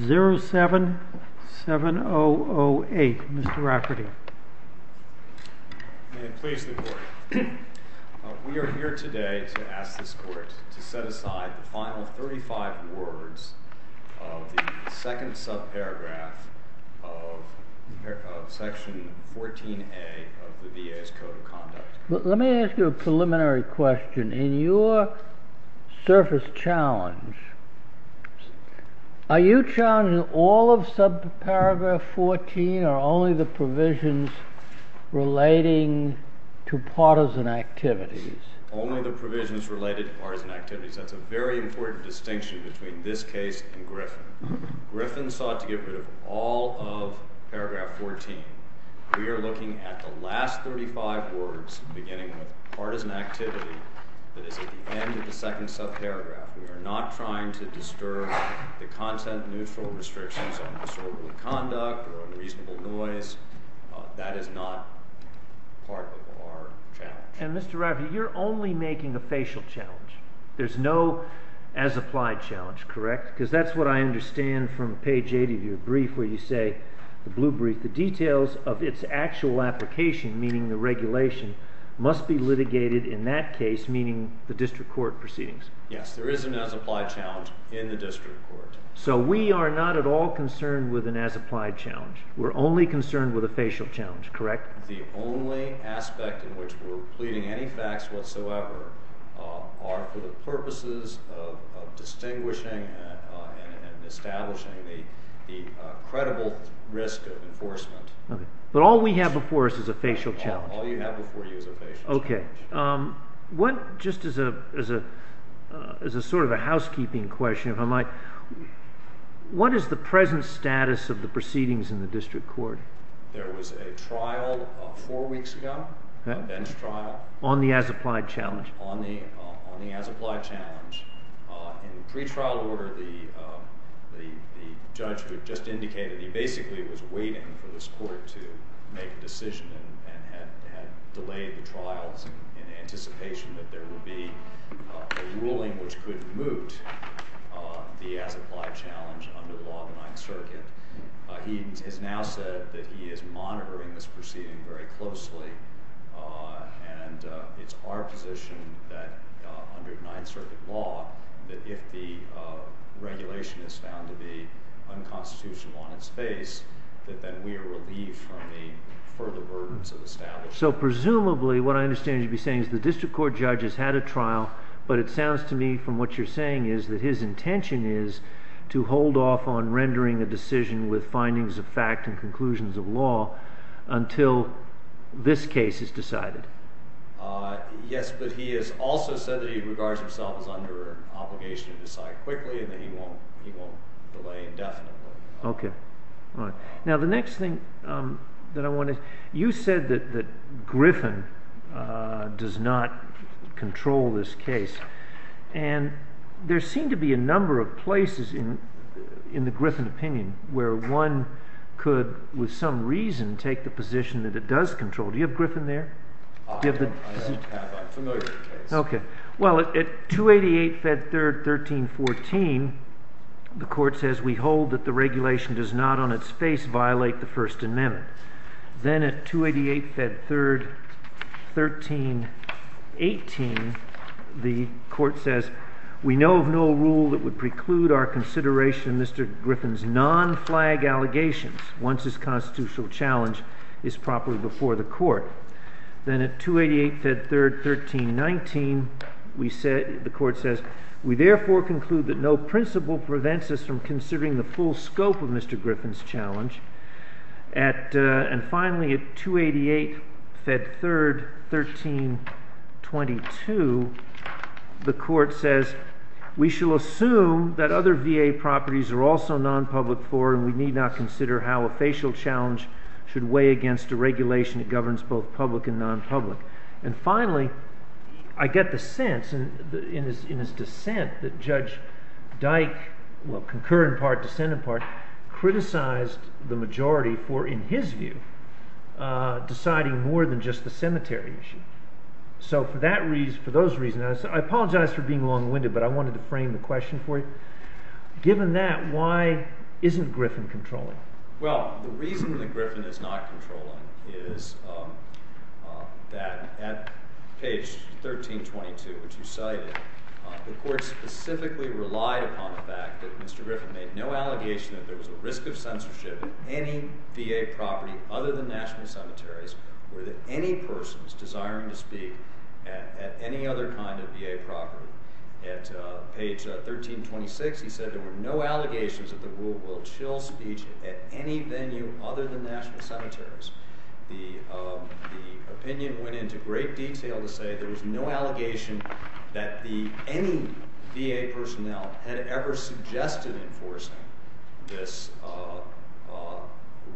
07-7008 Mr. Rafferty. May it please the court. We are here today to ask this court to set aside the final 35 words of the second subparagraph of section 14A of the VA's Code of Conduct. Let me ask you a preliminary question. In your surface challenge, are you challenging all of subparagraph 14 or only the provisions relating to partisan activities? Only the provisions related to partisan activities. That's a very important distinction between this case and Griffin. Griffin sought to get rid of all of paragraph 14. We are looking at the last 35 words, beginning with partisan activity, that is at the end of the second subparagraph. We are not trying to disturb the content-neutral restrictions on disorderly conduct or unreasonable noise. That is not part of our challenge. And Mr. Rafferty, you're only making a facial challenge. There's no as-applied challenge, correct? Because that's what I understand from page 8 of your brief where you say, the details of its actual application, meaning the regulation, must be litigated in that case, meaning the district court proceedings. Yes, there is an as-applied challenge in the district court. So we are not at all concerned with an as-applied challenge. We're only concerned with a facial challenge, correct? The only aspect in which we're pleading any facts whatsoever are for the purposes of distinguishing and establishing the credible risk of enforcement. But all we have before us is a facial challenge. All you have before you is a facial challenge. Okay. Just as a sort of a housekeeping question, if I might, what is the present status of the proceedings in the district court? There was a trial four weeks ago, a bench trial. On the as-applied challenge? On the as-applied challenge. In the pretrial order, the judge just indicated he basically was waiting for this court to make a decision and had delayed the trials in anticipation that there would be a ruling which could moot the as-applied challenge under the law of the Ninth Circuit. He has now said that he is monitoring this proceeding very closely. And it's our position that under the Ninth Circuit law, that if the regulation is found to be unconstitutional on its face, that then we are relieved from the further burdens of establishment. So presumably, what I understand you'd be saying is the district court judge has had a trial, but it sounds to me from what you're saying is that his intention is to hold off on rendering a decision with findings of fact and conclusions of law until this case is decided. Yes, but he has also said that he regards himself as under obligation to decide quickly and that he won't delay indefinitely. OK. Now, the next thing that I want to, you said that Griffin does not control this case. And there seem to be a number of places in the Griffin opinion where one could, with some reason, take the position that it does control. Do you have Griffin there? I don't have that. I'm familiar with the case. OK. Well, at 288, Fed 3rd, 1314, the court says we hold that the regulation does not on its face violate the First Amendment. Then at 288, Fed 3rd, 1318, the court says we know of no rule that would preclude our consideration of Mr. Griffin's non-flag allegations once his constitutional challenge is properly before the court. Then at 288, Fed 3rd, 1319, the court says we therefore conclude that no principle prevents us from considering the full scope of Mr. Griffin's challenge. And finally, at 288, Fed 3rd, 1322, the court says we shall assume that other VA properties are also non-public for and we need not consider how a facial challenge should weigh against a regulation that governs both public and non-public. And finally, I get the sense in his dissent that Judge Dyke, well, concur in part, dissent in part, criticized the majority for, in his view, deciding more than just the cemetery issue. So for those reasons, I apologize for being long-winded, but I wanted to frame the question for you. Given that, why isn't Griffin controlling? Well, the reason that Griffin is not controlling is that at page 1322, which you cited, the court specifically relied upon the fact that Mr. Griffin made no allegation that there was a risk of censorship at any VA property other than national cemeteries or that any person was desiring to speak at any other kind of VA property. At page 1326, he said there were no allegations that the rule will chill speech at any venue other than national cemeteries. The opinion went into great detail to say there was no allegation that any VA personnel had ever suggested enforcing this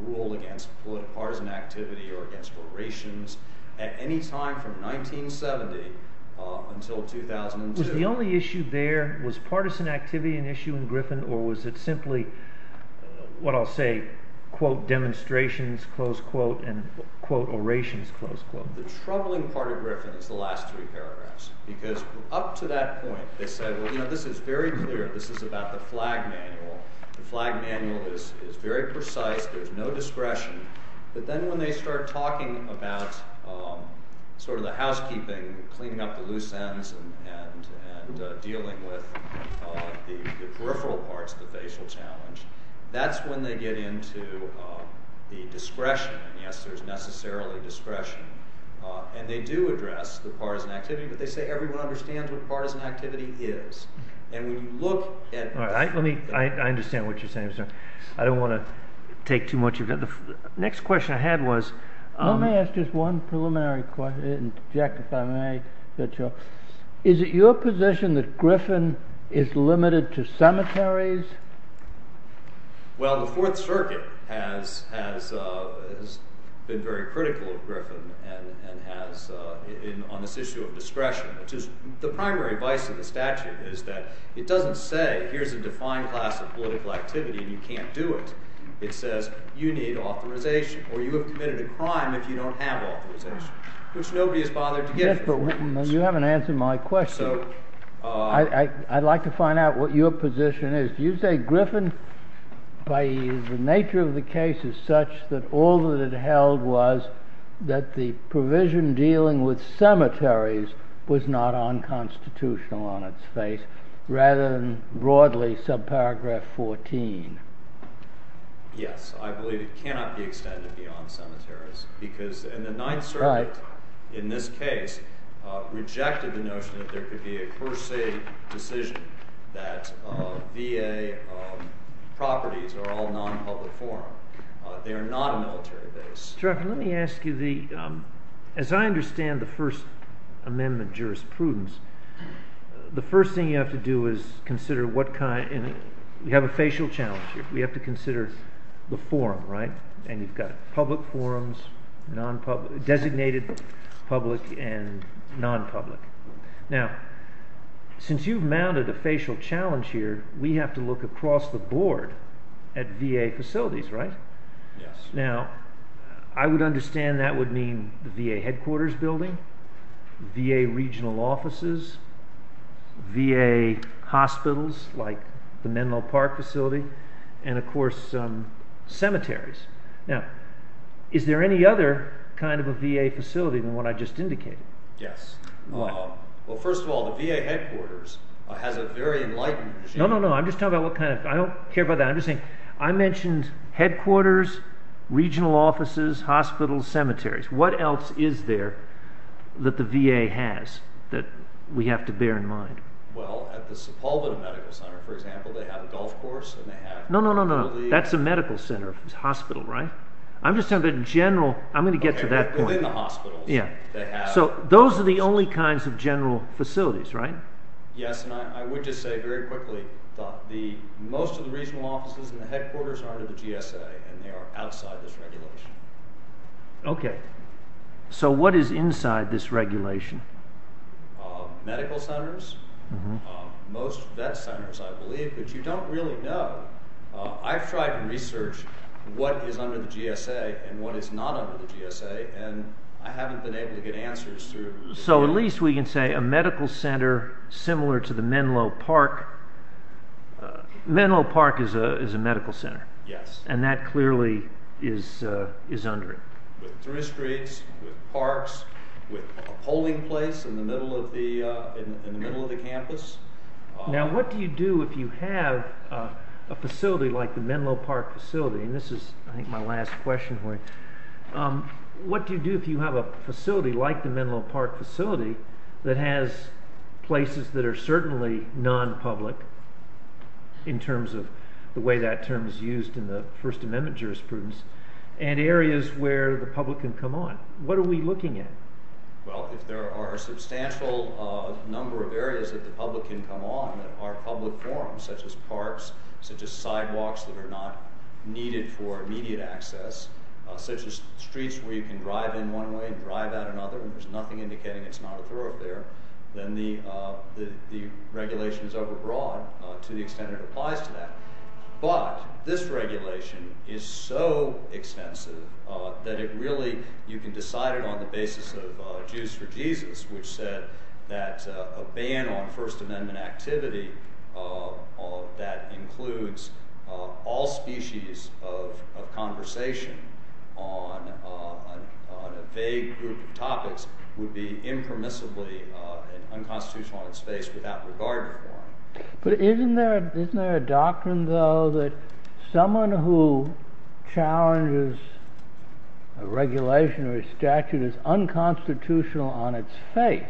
rule against partisan activity or against orations at any time from 1970 until 2002. So the only issue there, was partisan activity an issue in Griffin, or was it simply, what I'll say, quote, demonstrations, close quote, and quote, orations, close quote? The troubling part of Griffin is the last three paragraphs, because up to that point, they said, well, you know, this is very clear, this is about the flag manual. The flag manual is very precise, there's no discretion, but then when they start talking about sort of the housekeeping, cleaning up the loose ends and dealing with the peripheral parts of the facial challenge, that's when they get into the discretion, and yes, there's necessarily discretion. And they do address the partisan activity, but they say everyone understands what partisan activity is. And when you look at- All right, I understand what you're saying, sir. I don't want to take too much of your time. The next question I had was- Jack, if I may. Is it your position that Griffin is limited to cemeteries? Well, the Fourth Circuit has been very critical of Griffin on this issue of discretion. The primary vice of the statute is that it doesn't say, here's a defined class of political activity and you can't do it. It says you need authorization, or you have committed a crime if you don't have authorization, which nobody has bothered to get. Yes, but you haven't answered my question. So- I'd like to find out what your position is. You say Griffin, by the nature of the case, is such that all that it held was that the provision dealing with cemeteries was not unconstitutional on its face, rather than broadly subparagraph 14. Yes, I believe it cannot be extended beyond cemeteries, because in the Ninth Circuit, in this case, they rejected the notion that there could be a per se decision that VA properties are all non-public forum. They are not a military base. Mr. Strachan, let me ask you, as I understand the First Amendment jurisprudence, the first thing you have to do is consider what kind- we have a facial challenge here. We have to consider the forum, right? And you've got public forums, designated public, and non-public. Now, since you've mounted a facial challenge here, we have to look across the board at VA facilities, right? Yes. Now, I would understand that would mean the VA headquarters building, VA regional offices, VA hospitals, like the Menlo Park facility, and of course, cemeteries. Now, is there any other kind of a VA facility than what I just indicated? Yes. Why? Well, first of all, the VA headquarters has a very enlightened regime. No, no, no, I'm just talking about what kind of- I don't care about that. I'm just saying, I mentioned headquarters, regional offices, hospitals, cemeteries. What else is there that the VA has that we have to bear in mind? Well, at the Sepulveda Medical Center, for example, they have a golf course and they have- No, no, no, no, that's a medical center. It's a hospital, right? I'm just talking about general- I'm going to get to that point. Okay, within the hospitals, they have- So, those are the only kinds of general facilities, right? Yes, and I would just say very quickly that most of the regional offices and the headquarters are under the GSA, and they are outside this regulation. Okay. So, what is inside this regulation? Medical centers, most vet centers, I believe, but you don't really know. I've tried to research what is under the GSA and what is not under the GSA, and I haven't been able to get answers through- So, at least we can say a medical center similar to the Menlo Park. Menlo Park is a medical center. Yes. And that clearly is under it. With three streets, with parks, with a polling place in the middle of the campus. Now, what do you do if you have a facility like the Menlo Park facility? And this is, I think, my last question for you. What do you do if you have a facility like the Menlo Park facility that has places that are certainly non-public, in terms of the way that term is used in the First Amendment jurisprudence, and areas where the public can come on? What are we looking at? Well, if there are a substantial number of areas that the public can come on, such as parks, such as sidewalks that are not needed for immediate access, such as streets where you can drive in one way and drive out another, and there's nothing indicating it's not a thoroughfare, then the regulation is overbroad to the extent it applies to that. But this regulation is so extensive that it really- You can decide it on the basis of Jews for Jesus, which said that a ban on First Amendment activity that includes all species of conversation on a vague group of topics would be impermissibly unconstitutional in space without regard to the law. But isn't there a doctrine, though, that someone who challenges a regulation or a statute as unconstitutional on its face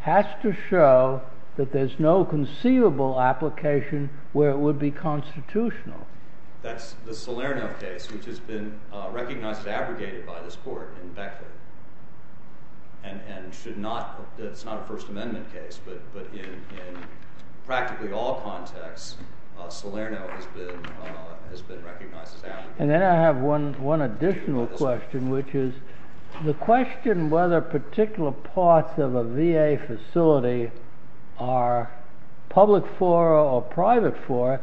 has to show that there's no conceivable application where it would be constitutional? That's the Salerno case, which has been recognized and abrogated by this court in Becker. And it's not a First Amendment case, but in practically all contexts, Salerno has been recognized as abrogated. And then I have one additional question, which is the question whether particular parts of a VA facility are public fora or private fora,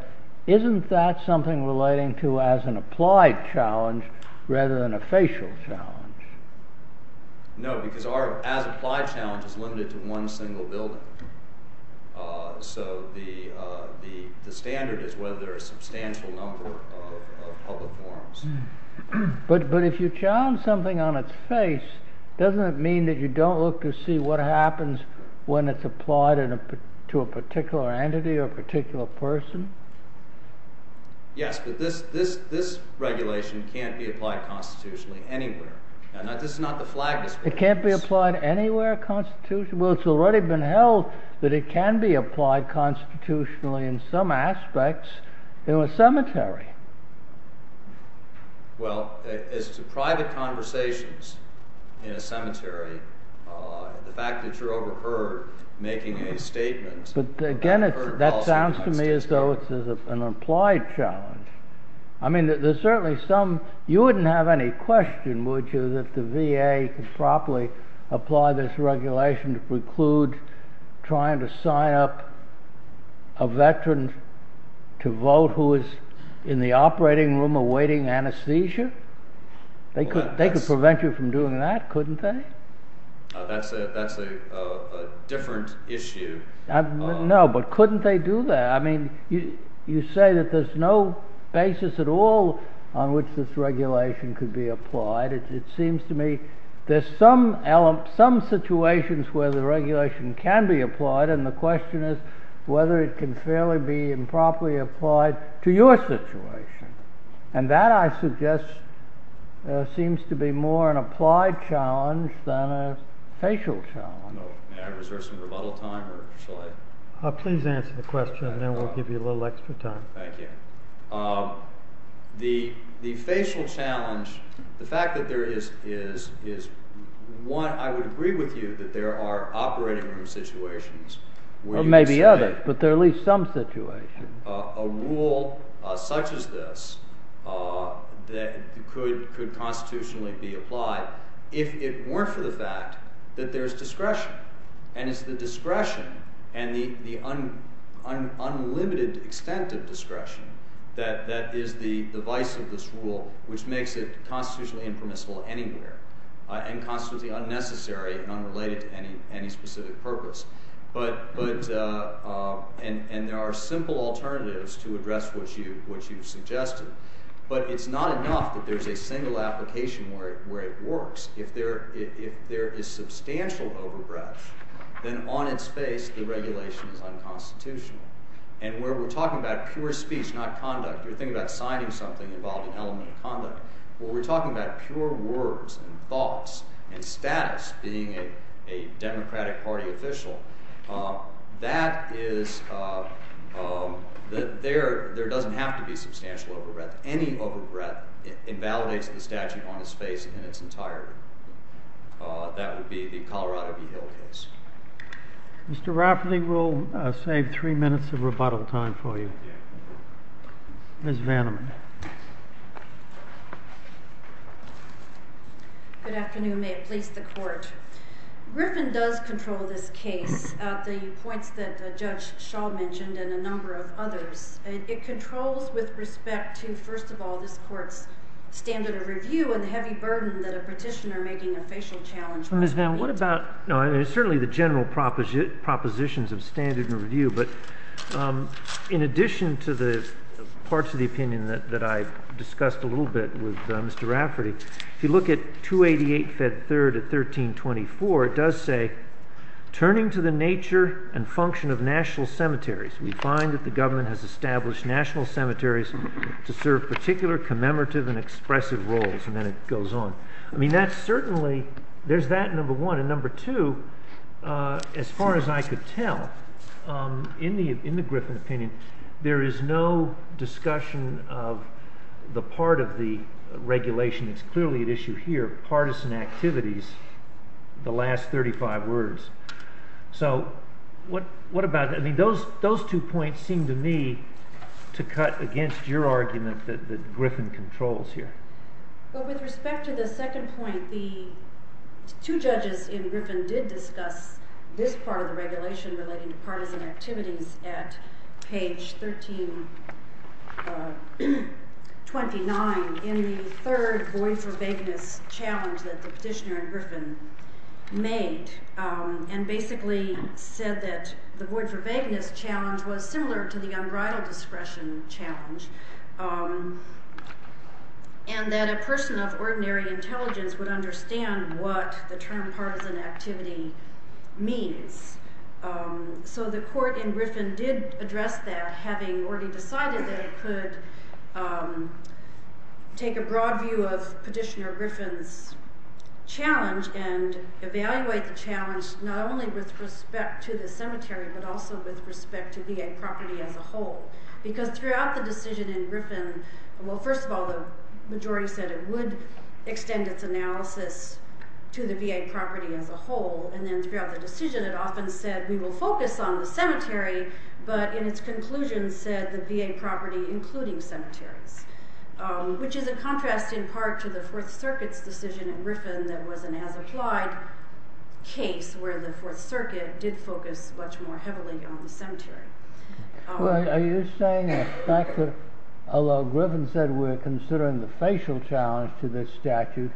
isn't that something relating to as an applied challenge rather than a facial challenge? No, because our as applied challenge is limited to one single building. So the standard is whether there are a substantial number of public forums. But if you challenge something on its face, doesn't it mean that you don't look to see what happens when it's applied to a particular entity or a particular person? Yes, but this regulation can't be applied constitutionally anywhere. This is not the flag display. It can't be applied anywhere constitutionally? Well, it's already been held that it can be applied constitutionally in some aspects in a cemetery. Well, as to private conversations in a cemetery, the fact that you're overheard making a statement But again, that sounds to me as though it's an applied challenge. I mean, there's certainly some... You wouldn't have any question, would you, that the VA could properly apply this regulation to preclude trying to sign up a veteran to vote who is in the operating room awaiting anesthesia? They could prevent you from doing that, couldn't they? That's a different issue. No, but couldn't they do that? I mean, you say that there's no basis at all on which this regulation could be applied. It seems to me there's some situations where the regulation can be applied, and the question is whether it can fairly be and properly applied to your situation. And that, I suggest, seems to be more an applied challenge than a facial challenge. May I reserve some rebuttal time, or shall I? Please answer the question, and then we'll give you a little extra time. Thank you. The facial challenge, the fact that there is, is, one, I would agree with you that there are operating room situations... Or maybe others, but there are at least some situations. ...a rule such as this that could constitutionally be applied if it weren't for the fact that there's discretion, and it's the discretion and the unlimited extent of discretion that is the vice of this rule, which makes it constitutionally impermissible anywhere, and constitutively unnecessary and unrelated to any specific purpose. But, and there are simple alternatives to address what you suggested, but it's not enough that there's a single application where it works. If there is substantial over-breadth, then on its face the regulation is unconstitutional. And where we're talking about pure speech, not conduct, you're thinking about signing something involved in elemental conduct, where we're talking about pure words and thoughts and status being a Democratic Party official, that is, there doesn't have to be substantial over-breadth. Any over-breadth invalidates the statute on its face in its entirety. That would be the Colorado v. Hill case. Mr. Rafferty, we'll save three minutes of rebuttal time for you. Ms. Vanneman. Good afternoon. May it please the Court. Griffin does control this case at the points that Judge Shaw mentioned and a number of others. It controls with respect to, first of all, this Court's standard of review and the heavy burden that a petitioner making a facial challenge might be. Ms. Vanneman, what about, certainly the general propositions of standard review, but in addition to the parts of the opinion that I discussed a little bit with Mr. Rafferty, if you look at 288 Fed 3rd at 1324, it does say, turning to the nature and function of national cemeteries, we find that the government has established national cemeteries to serve particular commemorative and expressive roles, and then it goes on. There's that, number one, and number two, as far as I could tell, in the Griffin opinion, there is no discussion of the part of the regulation that's clearly at issue here, partisan activities, the last 35 words. So, what about, those two points seem to me to cut against your argument that Griffin controls here. With respect to the second point, the two judges in Griffin did discuss this part of the regulation relating to partisan activities at page 1329 in the third void for vagueness challenge that the petitioner in Griffin made, and basically said that the void for vagueness challenge was similar to the unbridled discretion challenge, and that a person of ordinary intelligence would understand what the term partisan activity means. So the court in Griffin did address that, having already decided that it could take a broad view of petitioner Griffin's challenge and evaluate the challenge not only with respect to the cemetery, but also with respect to VA property as a whole, because throughout the decision in Griffin, well, first of all, the majority said it would extend its analysis to the VA property as a whole, and then throughout the decision it often said we will focus on the cemetery, but in its conclusion said the VA property including cemeteries, which is a contrast in part to the Fourth Circuit's decision in Griffin that was an as-applied case where the Fourth Circuit did focus much more heavily on the cemetery. Are you saying that although Griffin said we're considering the facial challenge to this statute,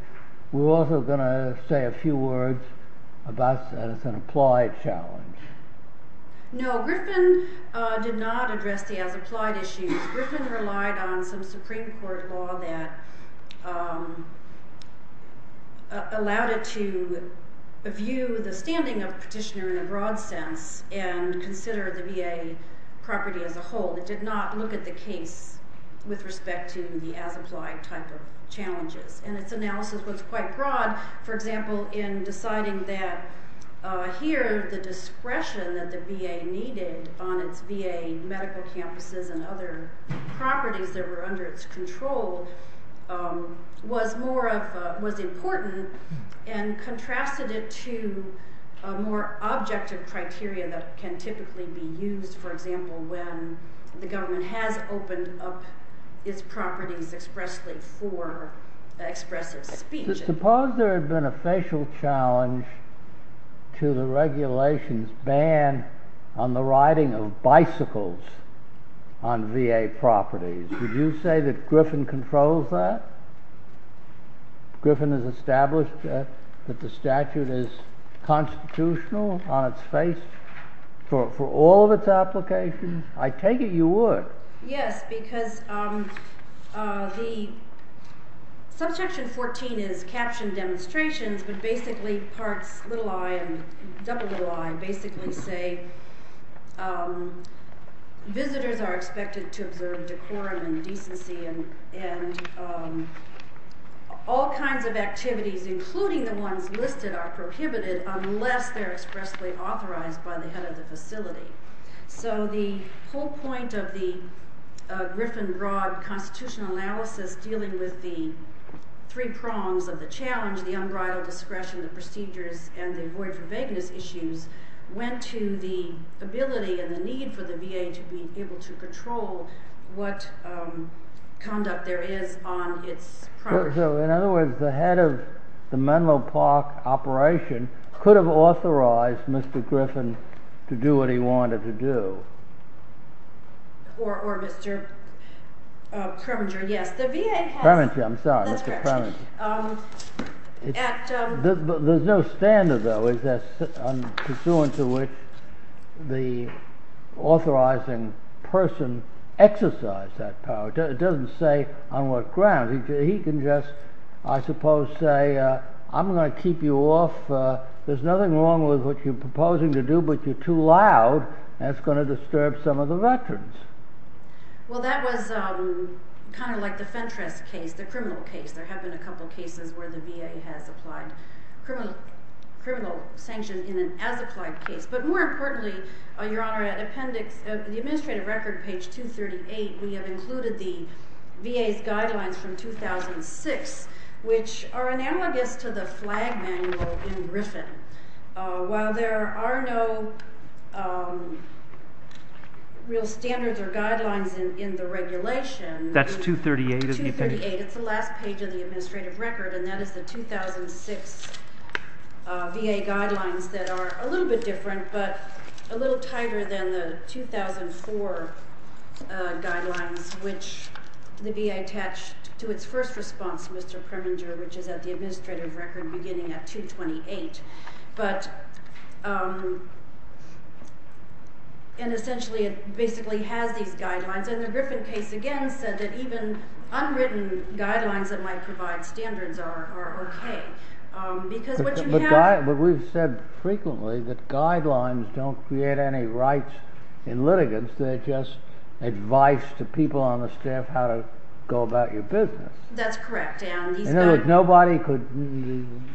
we're also going to say a few words about an as-applied challenge? No, Griffin did not address the as-applied issues. Griffin relied on some Supreme Court law that allowed it to view the standing of the petitioner in a broad sense and consider the VA property as a whole. It did not look at the case with respect to the as-applied type of challenges. And its analysis was quite broad, for example, in deciding that here the discretion that the VA needed on its VA medical campuses and other properties that were under its control was important and contrasted it to a more objective criteria that can typically be used, for example, when the government has opened up its properties expressly for expressive speech. Suppose there had been a facial challenge to the regulations ban on the riding of bicycles on VA properties. Would you say that Griffin controls that? Griffin has established that the statute is constitutional on its face for all of its applications? I take it you would. Yes, because the Subsection 14 is captioned demonstrations, but basically parts little i and double little i basically say visitors are expected to observe decorum and decency and all kinds of activities including the ones listed are prohibited unless they're expressly authorized by the head of the facility. So the whole point of the Griffin broad constitutional analysis dealing with the three prongs of the challenge, the unbridled discretion, the procedures, and the avoid for vagueness issues went to the ability and the need for the VA to be able to control what conduct there is on its property. So in other words, the head of the Menlo Park operation could have authorized Mr. Griffin to do what he wanted to do. Or Mr. Kreminger, yes. Kreminger, I'm sorry, Mr. Kreminger. There's no standard though pursuant to which the authorizing person exercise that power. It doesn't say on what grounds. He can just I suppose say I'm going to keep you off. There's nothing wrong with what you're proposing to do but you're too loud. That's going to disturb some of the veterans. Well that was kind of like the Fentress case, the criminal case. There have been a couple of cases where the VA has applied criminal sanctions in an as-applied case. But more importantly your honor, the administrative record page 238 we have included the VA's guidelines from 2006 which are analogous to the flag manual in Griffin. While there are no real standards or guidelines in the regulation That's 238 of the appendix. It's the last page of the administrative record and that is the 2006 VA guidelines that are a little bit different but a little tighter than the 2004 guidelines which the VA attached to its first response Mr. Preminger which is at the administrative record beginning at 228 but and essentially it basically has these guidelines and the Griffin case again said that even unwritten guidelines that might provide standards are okay but we've said frequently that guidelines don't create any rights in litigants they're just advice to people on the staff how to go about your business. That's correct and nobody could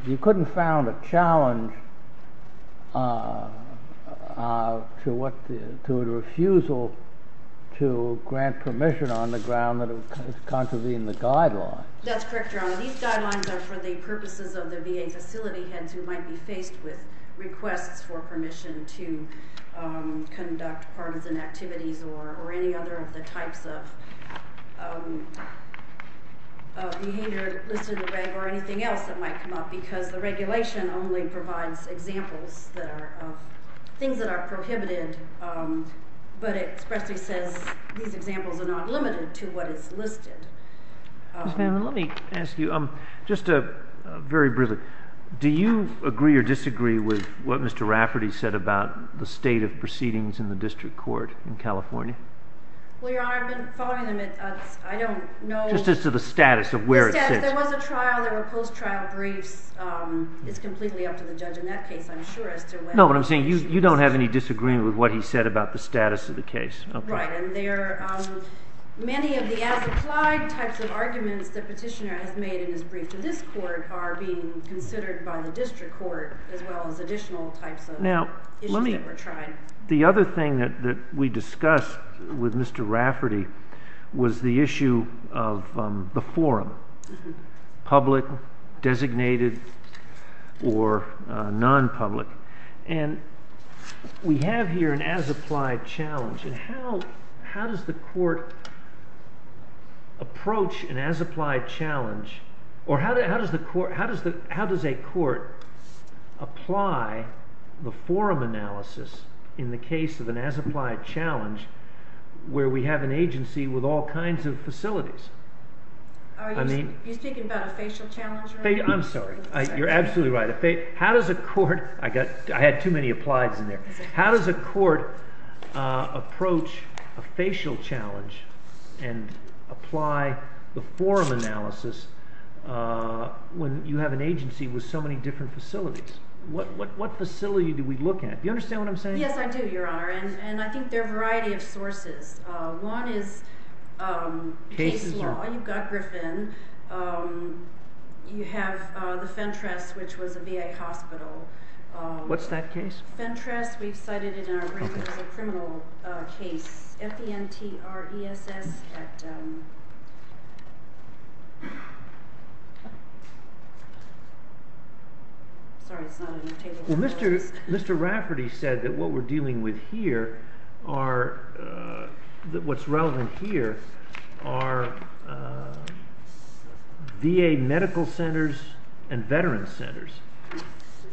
you couldn't found a challenge to a refusal to grant permission on the ground that it would contravene the guidelines That's correct Your Honor. These guidelines are for the purposes of the VA facility heads who might be faced with requests for permission to conduct partisan activities or any other of the types of behavior listed in the reg or anything else that might come up because the regulation only provides examples that are things that are prohibited but it expressly says these examples are not limited to what is listed Let me ask you do you agree or disagree with what Mr. Rafferty said about the state of proceedings in the district court in California? I don't know Just as to the status of where it sits There was a trial, there were post-trial briefs it's completely up to the judge in that case I'm sure as to whether You don't have any disagreement with what he said about the status of the case Right, and there many of the as-applied types of arguments the petitioner has made in his brief to this court are being considered by the district court as well as additional types of issues that were tried The other thing that we discussed with Mr. Rafferty was the issue of the forum public designated or non-public and we have here an as-applied challenge and how does the court approach an as-applied challenge or how does a court apply the forum analysis in the case of an as-applied challenge where we have an agency with all kinds of Are you speaking about a facial challenge? I'm sorry, you're absolutely right How does a court I had too many applies in there How does a court approach a facial challenge and apply the forum analysis when you have an agency with so many different facilities What facility do we look at? Do you understand what I'm saying? Yes, I do, your honor, and I think there are a variety of sources. One is case law You've got Griffin You have the Fentress which was a VA hospital What's that case? Fentress, we've cited it in our brief as a criminal case F-E-N-T-R-E-S-S Mr. Rafferty said that what we're dealing with here are what's relevant here are VA medical centers and veteran centers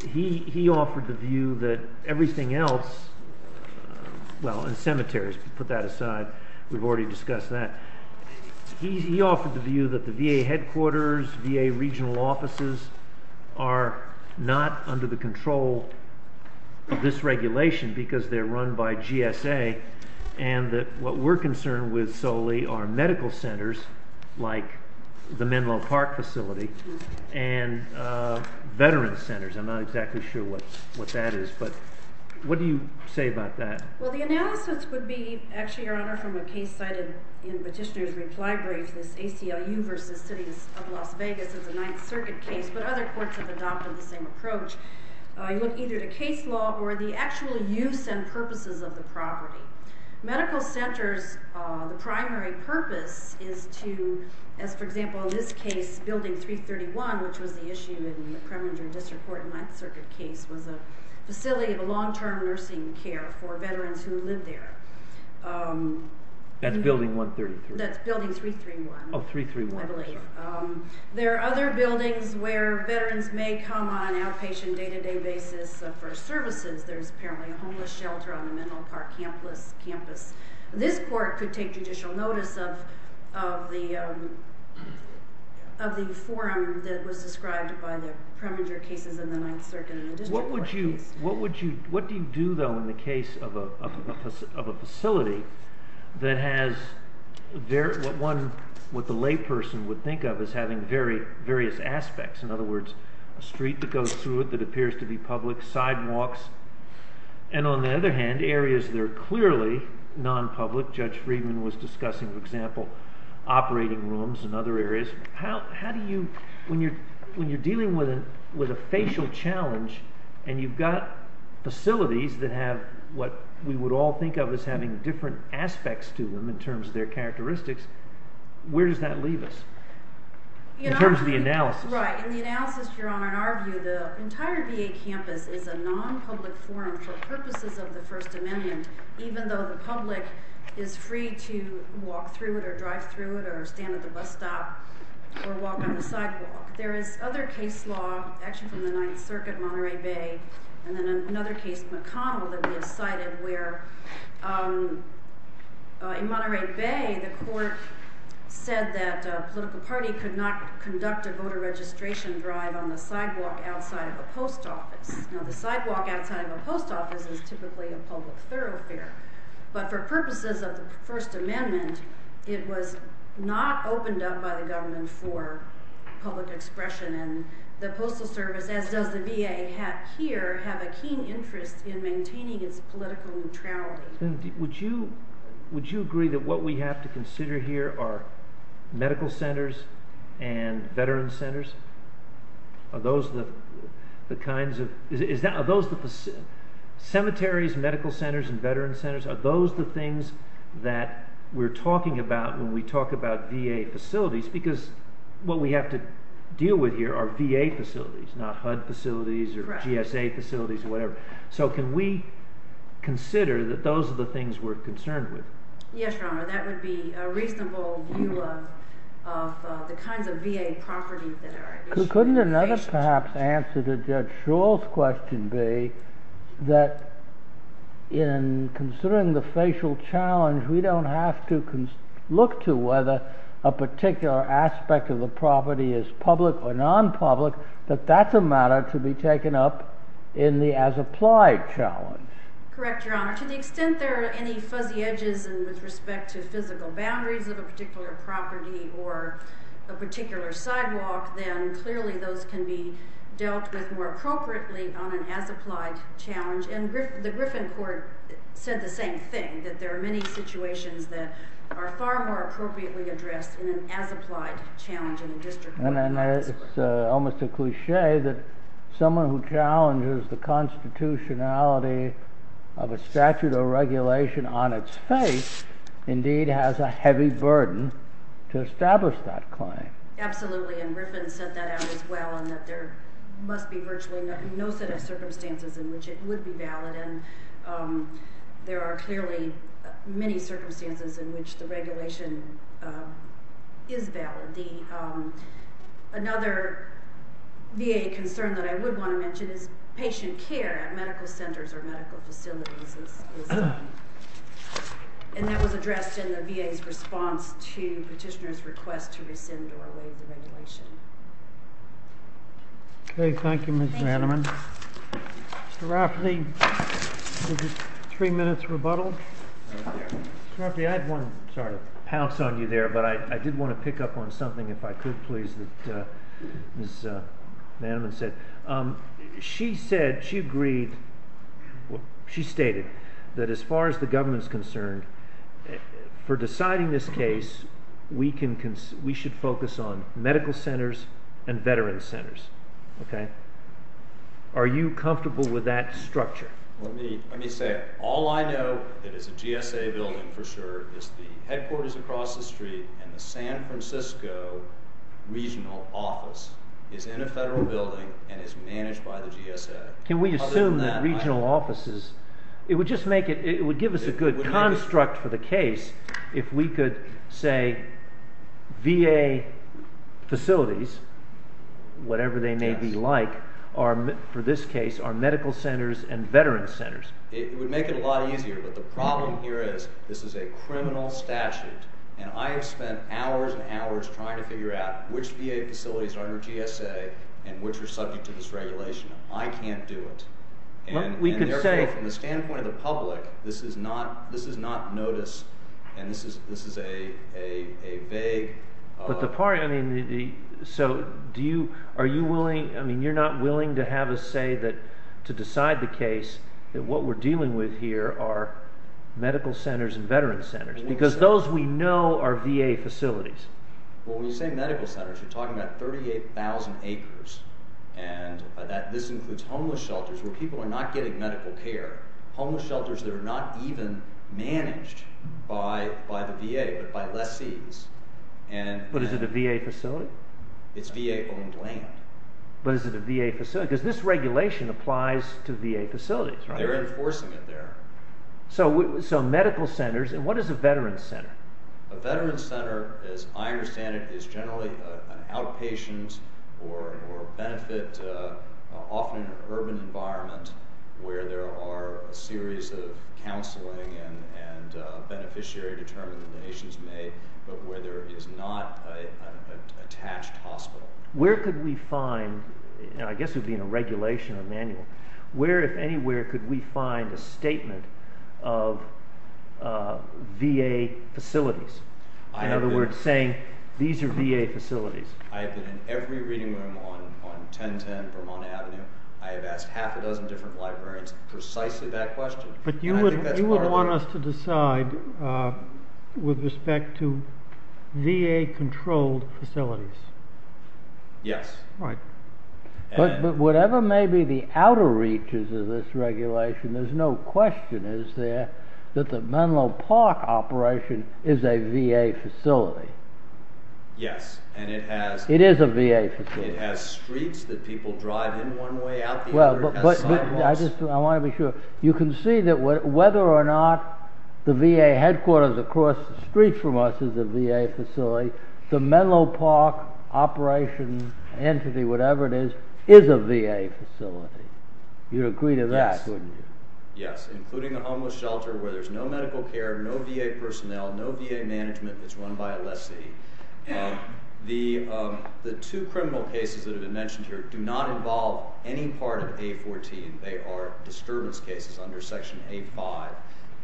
He offered the view that everything else well, and cemeteries put that aside, we've already discussed that He offered the view that the VA headquarters VA regional offices are not under the control of this regulation because they're run by GSA and that what we're concerned with solely are medical centers like the Menlo Park facility and veteran centers, I'm not exactly sure what that is, but what do you say about that? Well, the analysis would be, actually, your honor, from a case cited in Petitioner's reply brief this ACLU versus cities of Las Vegas, it's a Ninth Circuit case but other courts have adopted the same approach You look either to case law or the actual use and purposes of the property. Medical centers, the primary purpose is to, as for example in this case, building 331 which was the issue in the Kreminger District Court in the Ninth Circuit case was a facility of long-term nursing care for veterans who live there That's building 133? That's building 331 Oh, 331. I believe There are other buildings where veterans may come on an outpatient day-to-day basis for services There's apparently a homeless shelter on the Menlo Park campus. This court could take judicial notice of the forum that was described by the Kreminger cases in the Ninth Circuit. What would you do, though, in the case of a facility that has what the lay person would think of as having various aspects. In other words a street that goes through it that appears to be public, sidewalks and on the other hand, areas that are clearly non-public. Judge Friedman was discussing, for example operating rooms and other areas How do you... When you're dealing with a facial challenge and you've got facilities that have what we would all think of as having different aspects to them in terms of their characteristics, where does that leave us? In terms of the analysis. Right. In the analysis, Your Honor in our view, the entire VA campus is a non-public forum for even though the public is free to walk through it or drive through it or stand at the bus stop or walk on the sidewalk. There is other case law, actually from the Ninth Circuit, Monterey Bay, and then another case McConnell that we have cited where in Monterey Bay the court said that a political party could not conduct a voter registration drive on the sidewalk outside of a post office. Now the sidewalk outside of a post office is typically a public thoroughfare but for purposes of the First Amendment, it was not opened up by the government for public expression and the Postal Service, as does the VA here, have a keen interest in maintaining its political neutrality. Would you agree that what we have to consider here are medical centers and veteran centers? Are those the kinds of... Are those the cemeteries, medical centers, and veteran centers? Are those the things that we're talking about when we talk about VA facilities? Because what we have to deal with here are VA facilities, not HUD facilities or GSA facilities or whatever. So can we consider that those are the things we're concerned with? Yes, Your Honor, that would be a reasonable view of the kinds of VA properties that are... Couldn't another perhaps answer to Judge Shull's question be that in considering the facial challenge, we don't have to look to whether a particular aspect of the property is public or non-public that that's a matter to be taken up in the as applied challenge. Correct, Your Honor. To the extent there are any fuzzy edges with respect to physical boundaries of a particular property or a particular sidewalk, then clearly those can be dealt with more appropriately on an as applied challenge. And the Griffin Court said the same thing, that there are many situations that are far more appropriately addressed in an as applied challenge in a district court. And it's almost a cliche that someone who challenges the constitutionality of a statute or regulation on its face indeed has a heavy burden to establish that claim. Absolutely. And Griffin set that out as well and that there must be virtually no set of circumstances in which it would be valid. There are clearly many circumstances in which the regulation is valid. Another VA concern that I would want to mention is patient care at medical centers or medical facilities. And that was addressed in the VA's response to petitioner's request to rescind or waive the regulation. Okay, thank you Ms. Manaman. Mr. Rafferty, three minutes rebuttal. Mr. Rafferty, I had one sort of pounce on you there, but I did want to pick up on something if I could, please, that Ms. Manaman said. She said, she agreed, she stated, that as far as the government's concerned, for deciding this case, we should focus on medical centers and veterans centers. Are you comfortable with that structure? Let me say, all I know that is a GSA building for sure is the headquarters across the street and the San Francisco regional office is in a federal building and is managed by the GSA. Can we assume that regional offices, it would just make it, it would give us a good construct for the case if we could say VA facilities, whatever they may be like, are, for this case, are medical centers and veterans centers. It would make it a lot easier, but the problem here is this is a criminal statute and I have spent hours and hours trying to figure out which VA facilities are under GSA and which are subject to this regulation. I can't do it. From the standpoint of the public, this is not notice and this is a vague... But the part, I mean, so do you, are you willing, I mean, you're not willing to have us say that to decide the case that what we're dealing with here are medical centers and veterans centers because those we know are VA facilities. Well, when you say medical centers, you're talking about 38,000 acres and this includes homeless shelters where people are not getting medical care. Homeless shelters that are not even managed by the VA, but by lessees. But is it a VA facility? It's VA owned land. But is it a VA facility? Because this regulation applies to VA facilities, right? They're enforcing it there. So medical centers, and what is a veterans center? A veterans center, as I understand it, is generally an outpatient or benefit often in an urban environment where there are a series of counseling and beneficiary determinations made, but where there is not an attached hospital. Where could we find, and I guess it would be in a regulation or manual, where if anywhere could we find a statement of VA facilities? In other words, saying these are every reading room on 1010 Vermont Avenue. I have asked half a dozen different librarians precisely that question. But you would want us to decide with respect to VA controlled facilities. Yes. But whatever may be the outer reaches of this regulation, there's no question is there that the Menlo Park operation is a VA facility. Yes. It is a VA facility. It has streets that people drive in one way out the other. I want to be sure. You can see that whether or not the VA headquarters across the street from us is a VA facility, the Menlo Park operation entity, whatever it is, is a VA facility. You'd agree to that, wouldn't you? Yes. Including a homeless shelter where there's no medical care, no VA personnel, no VA management. It's run by a lessee. The two criminal cases that have been mentioned here do not involve any part of A14. They are disturbance cases under Section A5.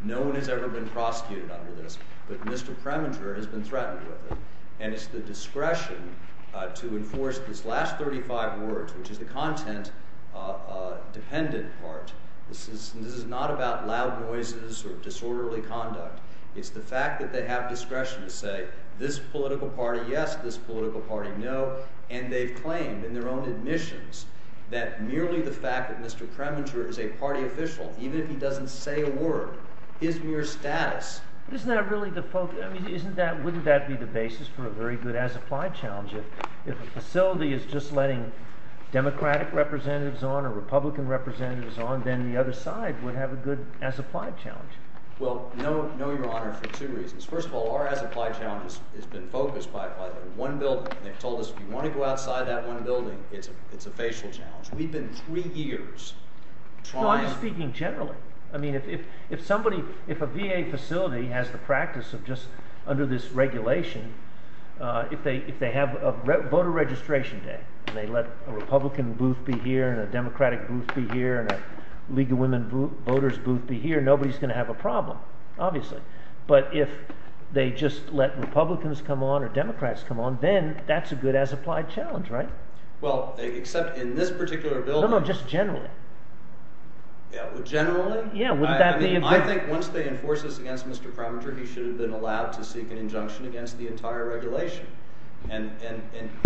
No one has ever been prosecuted under this, but Mr. Preminger has been threatened with it. And it's the discretion to enforce this last 35 words, which is the content dependent part. This is not about loud noises or disorderly conduct. It's the fact that they have discretion to say, this political party, yes. This political party, no. And they've claimed in their own admissions that merely the fact that Mr. Preminger is a party official, even if he doesn't say a word, his mere status... Wouldn't that be the basis for a very good as-applied challenge? If a facility is just letting Democratic representatives on or Republican representatives on, then the other side would have a good as-applied challenge. Well, no, Your Honor, for two reasons. First of all, our as-applied challenge has been focused by one building. They've told us, if you want to go outside that one building, it's a facial challenge. We've been three years trying... No, I'm speaking generally. I mean, if somebody, if a VA facility has the practice of just, under this regulation, if they have a voter registration day, and they let a Republican booth be here and a Democratic booth be here and a women voters booth be here, nobody's going to have a problem, obviously. But if they just let Republicans come on or Democrats come on, then that's a good as-applied challenge, right? Well, except in this particular building... No, no, just generally. Generally? Yeah, wouldn't that be a good... I mean, I think once they enforce this against Mr. Preminger, he should have been allowed to seek an injunction against the entire regulation. And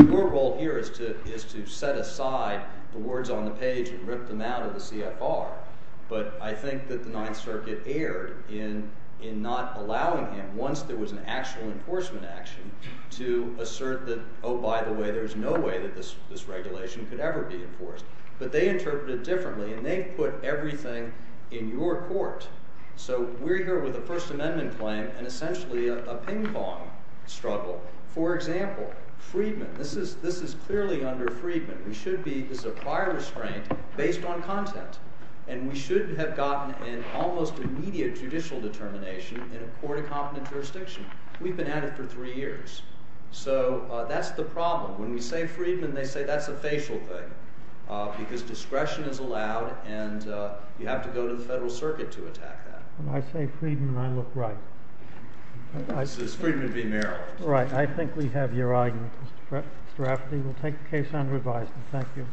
your role here is to set aside the words on the page and rip them out of the CFR. But I think that the Ninth Circuit erred in not allowing him, once there was an actual enforcement action, to assert that, oh, by the way, there's no way that this regulation could ever be enforced. But they interpreted differently, and they put everything in your court. So we're here with a First Amendment claim and essentially a ping-pong struggle. For example, Friedman. This is clearly under Friedman. This is a prior restraint based on content. And we should have gotten an almost immediate judicial determination in a court of competent jurisdiction. We've been at it for three years. So that's the problem. When we say Friedman, they say that's a facial thing because discretion is allowed and you have to go to the Federal Circuit to attack that. When I say Friedman, I look right. This is Friedman v. Maryland. Right. I think we have your argument. Mr. Rafferty, we'll take the case unrevised. Thank you. Thank you.